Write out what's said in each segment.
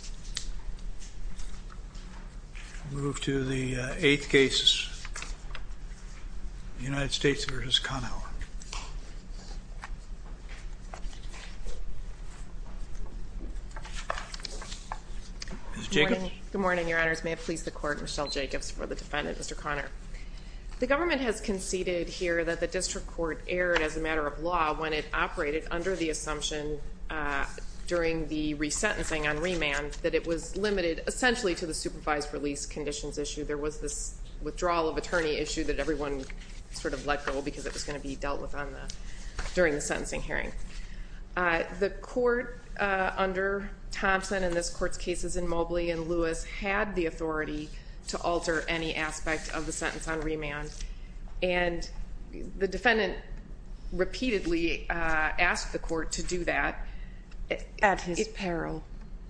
Good morning, your honors. May it please the court, Michelle Jacobs for the defendant, Mr. Conor. The government has conceded here that the district court erred as a matter of law when it operated under the assumption during the resentencing on remand that it was limited essentially to the supervised release conditions issue. There was this withdrawal of attorney issue that everyone sort of let go because it was going to be dealt with during the sentencing hearing. The court under Thompson in this court's cases in Mobley and Lewis had the authority to alter any aspect of the sentence on remand. And the defendant repeatedly asked the court to do that. At his peril.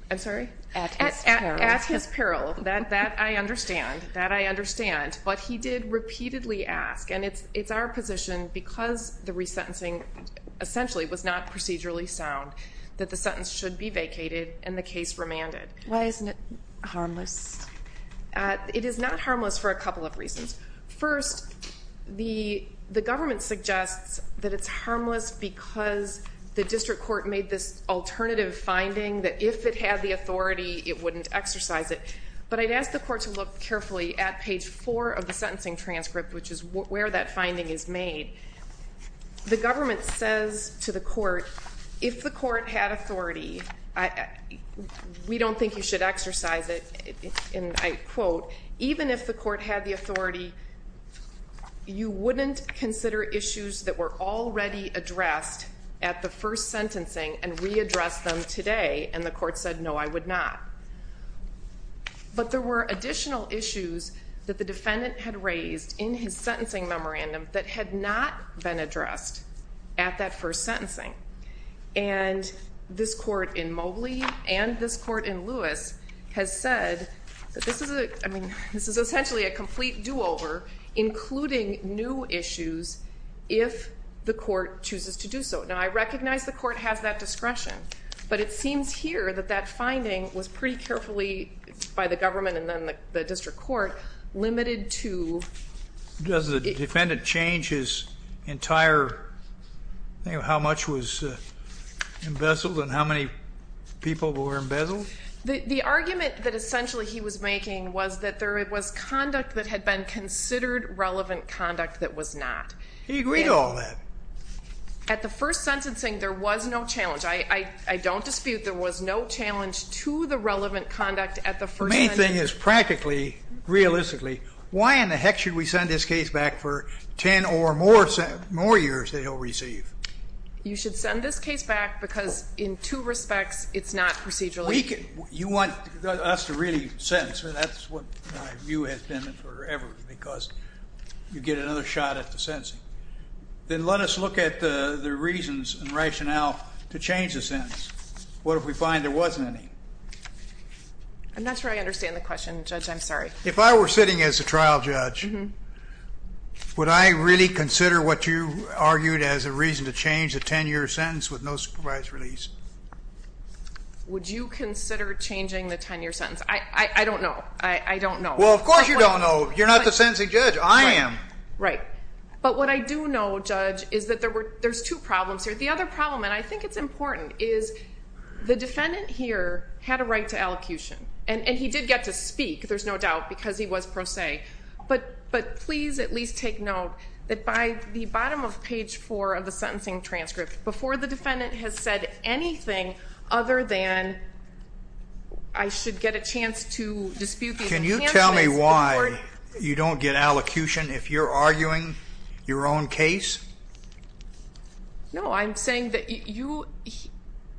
I'm sorry? At his peril. At his peril. That I understand. That I understand. But he did repeatedly ask. And it's our position because the resentencing essentially was not procedurally sound that the sentence should be vacated and the case remanded. Why isn't it harmless? It is not harmless for a couple of reasons. First, the government suggests that it's harmless because the district court made this alternative finding that if it had the authority, it wouldn't exercise it. But I'd ask the court to look carefully at page four of the sentencing transcript, which is where that finding is made. The government says to the court, if the court had authority, we don't think you should exercise it. And I quote, even if the court had the authority, you wouldn't consider issues that were already addressed at the first sentencing and readdress them today. And the court said, no, I would not. But there were additional issues that the defendant had raised in his sentencing memorandum that had not been addressed at that first sentencing. And this court in Mobley and this court in Lewis has said that this is essentially a complete do-over, including new issues, if the court chooses to do so. Now, I recognize the court has that discretion. But it seems here that that finding was pretty carefully, by the government and then the district court, limited to... Does the defendant change his entire thing of how much was embezzled and how many people were embezzled? The argument that essentially he was making was that there was conduct that had been considered relevant conduct that was not. He agreed to all that. At the first sentencing, there was no challenge. I don't dispute there was no challenge to the relevant conduct at the first sentencing. The main thing is practically, realistically, why in the heck should we send this case back for 10 or more years that he'll receive? You should send this case back because in two respects, it's not procedurally... You want us to really sentence. That's what my view has been forever, because you get another shot at the sentencing. Then let us look at the reasons and rationale to change the sentence. What if we find there wasn't any? I'm not sure I understand the question, Judge. I'm sorry. If I were sitting as a trial judge, would I really consider what you argued as a reason to change a 10-year sentence with no supervised release? Would you consider changing the 10-year sentence? I don't know. I don't know. Well, of course you don't know. You're not the sentencing judge. I am. Right. But what I do know, Judge, is that there's two problems here. The other problem, and I think it's important, is the defendant here had a right to elocution. And he did get to speak, there's no doubt, because he was pro se. But please at least take note that by the bottom of page 4 of the sentencing transcript, before the defendant has said anything other than, I should get a chance to dispute these... Judge, can you tell me why you don't get elocution if you're arguing your own case? No, I'm saying that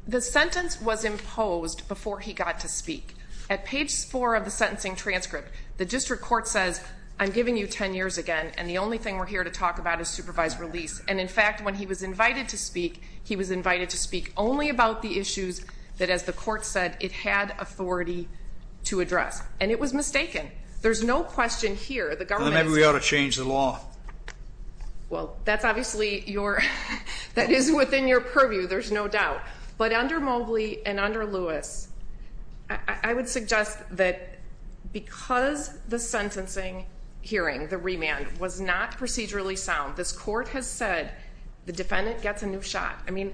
the sentence was imposed before he got to speak. At page 4 of the sentencing transcript, the district court says, I'm giving you 10 years again, and the only thing we're here to talk about is supervised release. And, in fact, when he was invited to speak, he was invited to speak only about the issues that, as the court said, it had authority to address. And it was mistaken. There's no question here. Then maybe we ought to change the law. Well, that's obviously your... that is within your purview, there's no doubt. But under Mobley and under Lewis, I would suggest that because the sentencing hearing, the remand, was not procedurally sound, this court has said the defendant gets a new shot. I mean,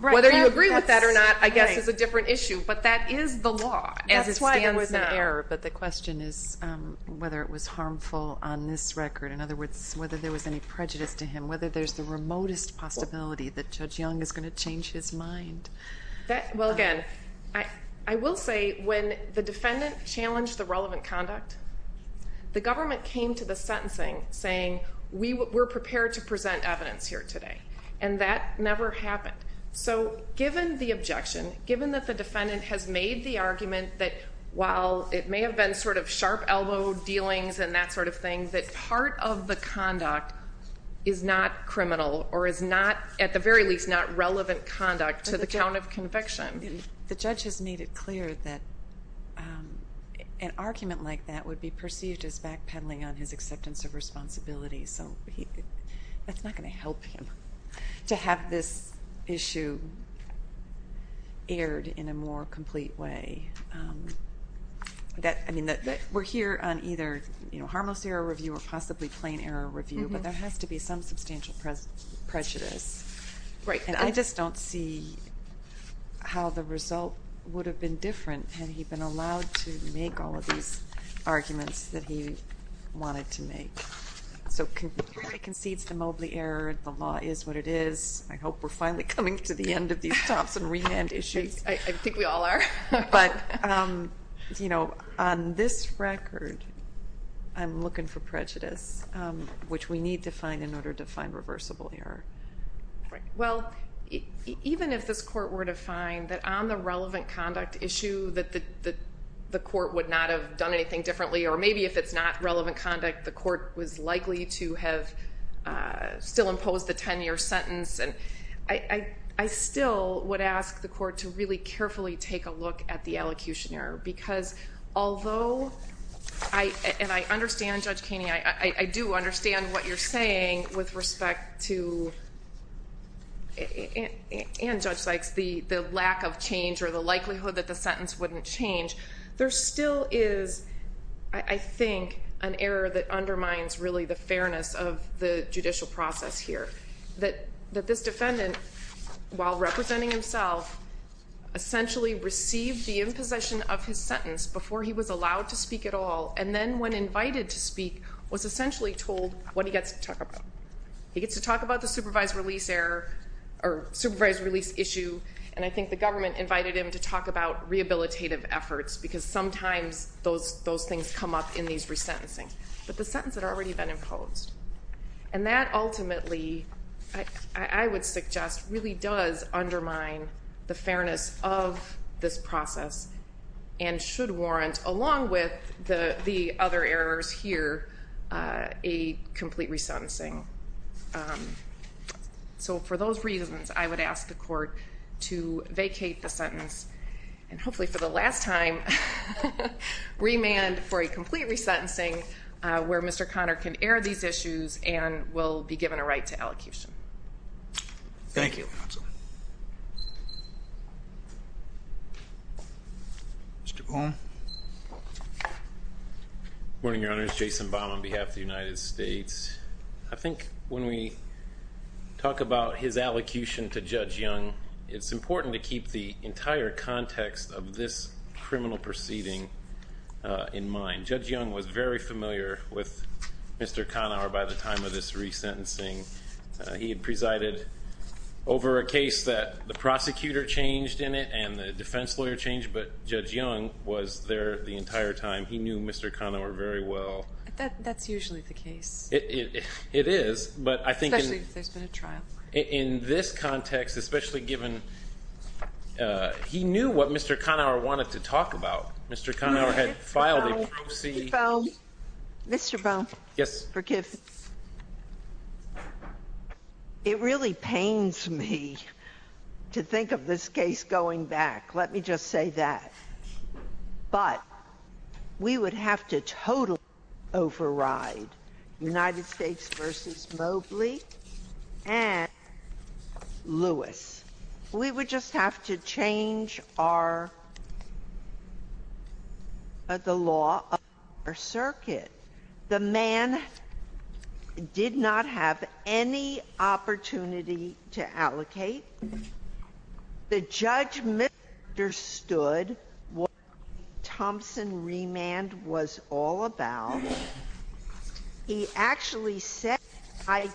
whether you agree with that or not, I guess, is a different issue. But that is the law as it stands now. That's why it was an error. But the question is whether it was harmful on this record. In other words, whether there was any prejudice to him, whether there's the remotest possibility that Judge Young is going to change his mind. Well, again, I will say when the defendant challenged the relevant conduct, the government came to the sentencing saying, we're prepared to present evidence here today. And that never happened. So given the objection, given that the defendant has made the argument that, while it may have been sort of sharp elbow dealings and that sort of thing, that part of the conduct is not criminal or is not, at the very least, not relevant conduct to the count of conviction. The judge has made it clear that an argument like that would be perceived as backpedaling on his acceptance of responsibility. So that's not going to help him to have this issue aired in a more complete way. I mean, we're here on either harmless error review or possibly plain error review. But there has to be some substantial prejudice. And I just don't see how the result would have been different had he been allowed to make all of these arguments that he wanted to make. So he concedes the Mobley error. The law is what it is. I hope we're finally coming to the end of these Thompson remand issues. I think we all are. But on this record, I'm looking for prejudice, which we need to find in order to find reversible error. Well, even if this court were to find that on the relevant conduct issue that the court would not have done anything differently, or maybe if it's not relevant conduct, the court was likely to have still imposed the 10-year sentence, I still would ask the court to really carefully take a look at the allocution error. Because although I understand, Judge Kaney, I do understand what you're saying with respect to, and Judge Sykes, the lack of change or the likelihood that the sentence wouldn't change, there still is, I think, an error that undermines really the fairness of the judicial process here. That this defendant, while representing himself, essentially received the imposition of his sentence before he was allowed to speak at all, and then when invited to speak, was essentially told what he gets to talk about. He gets to talk about the supervised release error, or supervised release issue, and I think the government invited him to talk about rehabilitative efforts, because sometimes those things come up in these resentencings. But the sentences had already been imposed. And that ultimately, I would suggest, really does undermine the fairness of this process, and should warrant, along with the other errors here, a complete resentencing. So for those reasons, I would ask the court to vacate the sentence, and hopefully for the last time, remand for a complete resentencing, where Mr. Conner can air these issues and will be given a right to allocution. Thank you. Mr. Boone. Good morning, Your Honor. It's Jason Baum on behalf of the United States. I think when we talk about his allocution to Judge Young, it's important to keep the entire context of this criminal proceeding in mind. Judge Young was very familiar with Mr. Conner by the time of this resentencing. He had presided over a case that the prosecutor changed in it, and the defense lawyer changed, but Judge Young was there the entire time. He knew Mr. Conner very well. That's usually the case. It is, but I think in this context, especially given he knew what Mr. Conner wanted to talk about. Mr. Conner had filed a prosecution. Mr. Boone. Yes. Forgive me. It really pains me to think of this case going back. Let me just say that. But we would have to totally override United States v. Mobley and Lewis. We would just have to change the law of our circuit. The man did not have any opportunity to allocate. The judge misunderstood what Thompson remand was all about. He actually said, I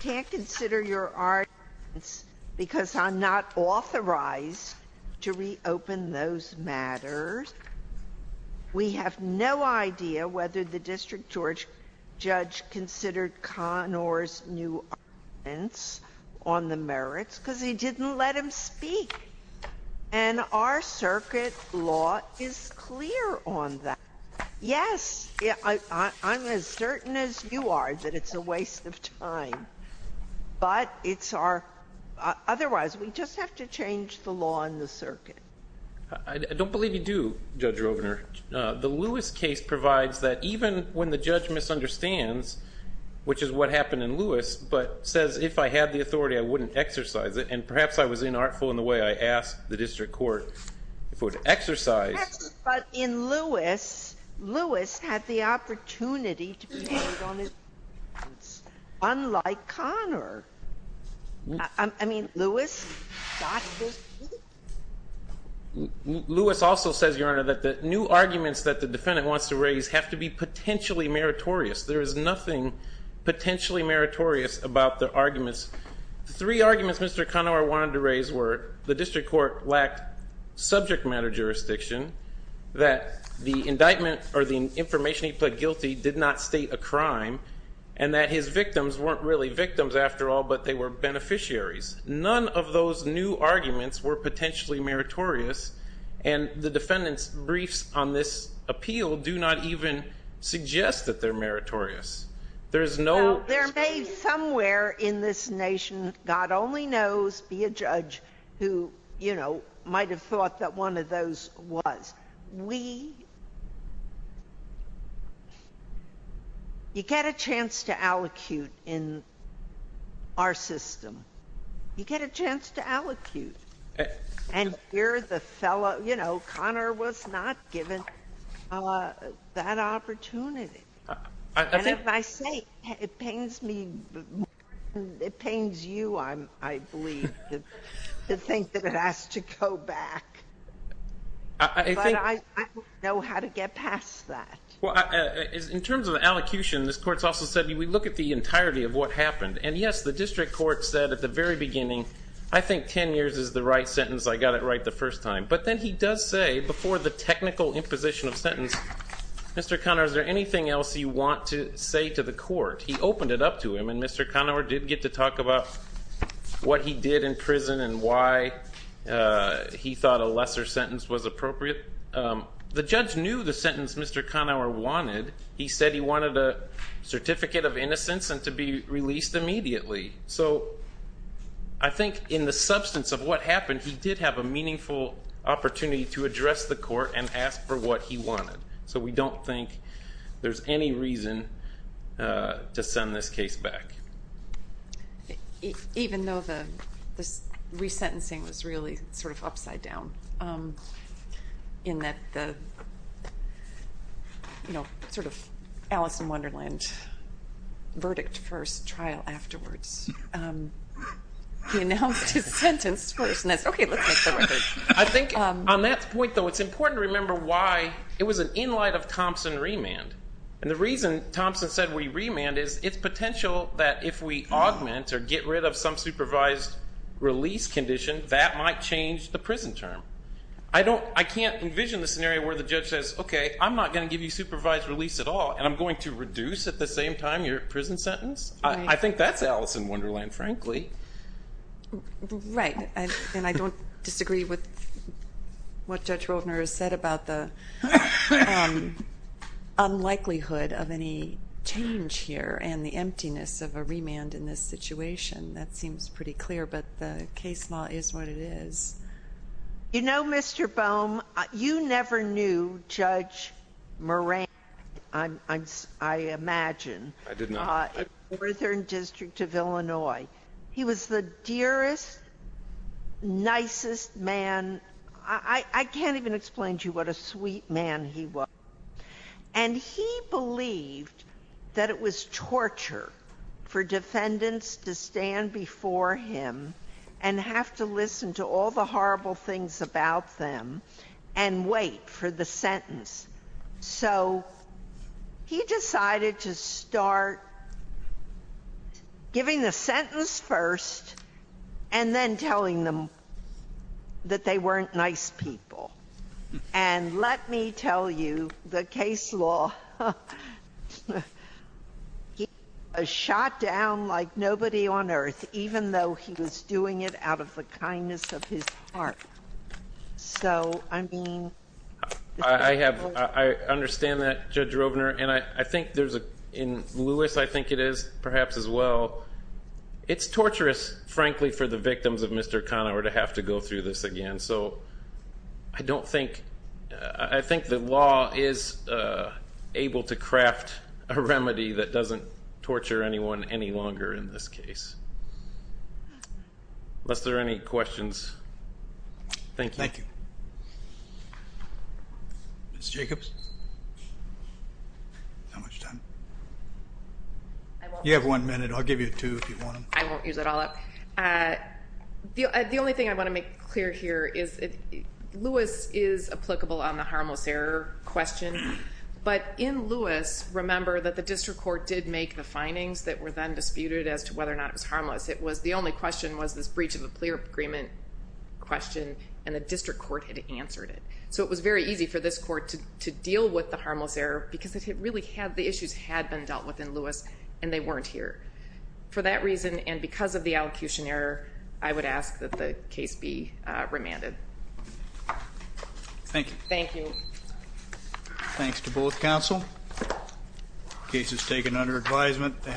can't consider your arguments because I'm not authorized to reopen those matters. We have no idea whether the district judge considered Conner's new arguments on the merits because he didn't let him speak. And our circuit law is clear on that. Yes, I'm as certain as you are that it's a waste of time. But it's our – otherwise, we just have to change the law in the circuit. I don't believe you do, Judge Rovner. The Lewis case provides that even when the judge misunderstands, which is what happened in Lewis, but says if I had the authority, I wouldn't exercise it. And perhaps I was inartful in the way I asked the district court if it would exercise. But in Lewis, Lewis had the opportunity to be heard on his merits, unlike Conner. I mean, Lewis got the – Lewis also says, Your Honor, that the new arguments that the defendant wants to raise have to be potentially meritorious. There is nothing potentially meritorious about the arguments. Three arguments Mr. Conner wanted to raise were the district court lacked subject matter jurisdiction, that the indictment or the information he pled guilty did not state a crime, and that his victims weren't really victims after all, but they were beneficiaries. None of those new arguments were potentially meritorious, and the defendant's briefs on this appeal do not even suggest that they're meritorious. There is no – Now, there may somewhere in this nation, God only knows, be a judge who, you know, might have thought that one of those was. We – you get a chance to allocute in our system. You get a chance to allocate. And here the fellow – you know, Conner was not given that opportunity. And if I say it pains me more than it pains you, I believe, to think that it has to go back. But I don't know how to get past that. Well, in terms of allocution, this court's also said we look at the entirety of what happened. And, yes, the district court said at the very beginning, I think 10 years is the right sentence. I got it right the first time. But then he does say before the technical imposition of sentence, Mr. Conner, is there anything else you want to say to the court? He opened it up to him. And Mr. Conner did get to talk about what he did in prison and why he thought a lesser sentence was appropriate. The judge knew the sentence Mr. Conner wanted. He said he wanted a certificate of innocence and to be released immediately. So I think in the substance of what happened, he did have a meaningful opportunity to address the court and ask for what he wanted. So we don't think there's any reason to send this case back. Even though the resentencing was really sort of upside down in that the sort of Alice in Wonderland verdict first, trial afterwards. He announced his sentence first and said, okay, let's make the record. I think on that point, though, it's important to remember why it was an in light of Thompson remand. And the reason Thompson said we remand is its potential that if we augment or get rid of some supervised release condition, that might change the prison term. I can't envision the scenario where the judge says, okay, I'm not going to give you supervised release at all. And I'm going to reduce at the same time your prison sentence. Right. And I don't disagree with what Judge Roldner has said about the unlikelihood of any change here and the emptiness of a remand in this situation. That seems pretty clear. But the case law is what it is. You know, Mr. Bohm, you never knew Judge Moran, I imagine. I did not. Northern District of Illinois. He was the dearest, nicest man. I can't even explain to you what a sweet man he was. And he believed that it was torture for defendants to stand before him and have to listen to all the horrible things about them and wait for the sentence. So he decided to start giving the sentence first and then telling them that they weren't nice people. And let me tell you, the case law, he was shot down like nobody on earth, even though he was doing it out of the kindness of his heart. So, I mean... I understand that, Judge Roldner. And I think there's a...in Lewis, I think it is perhaps as well. It's torturous, frankly, for the victims of Mr. Conower to have to go through this again. So I don't think...I think the law is able to craft a remedy that doesn't torture anyone any longer in this case. Unless there are any questions. Thank you. Thank you. Ms. Jacobs? You have one minute. I'll give you two if you want them. I won't use it all up. The only thing I want to make clear here is Lewis is applicable on the harmless error question. But in Lewis, remember that the district court did make the findings that were then disputed as to whether or not it was harmless. It was...the only question was this breach of the clear agreement question and the district court had answered it. So it was very easy for this court to deal with the harmless error because it really had...the issues had been dealt with in Lewis and they weren't here. For that reason and because of the allocution error, I would ask that the case be remanded. Thank you. Thank you. Thanks to both counsel. Case is taken under advisement.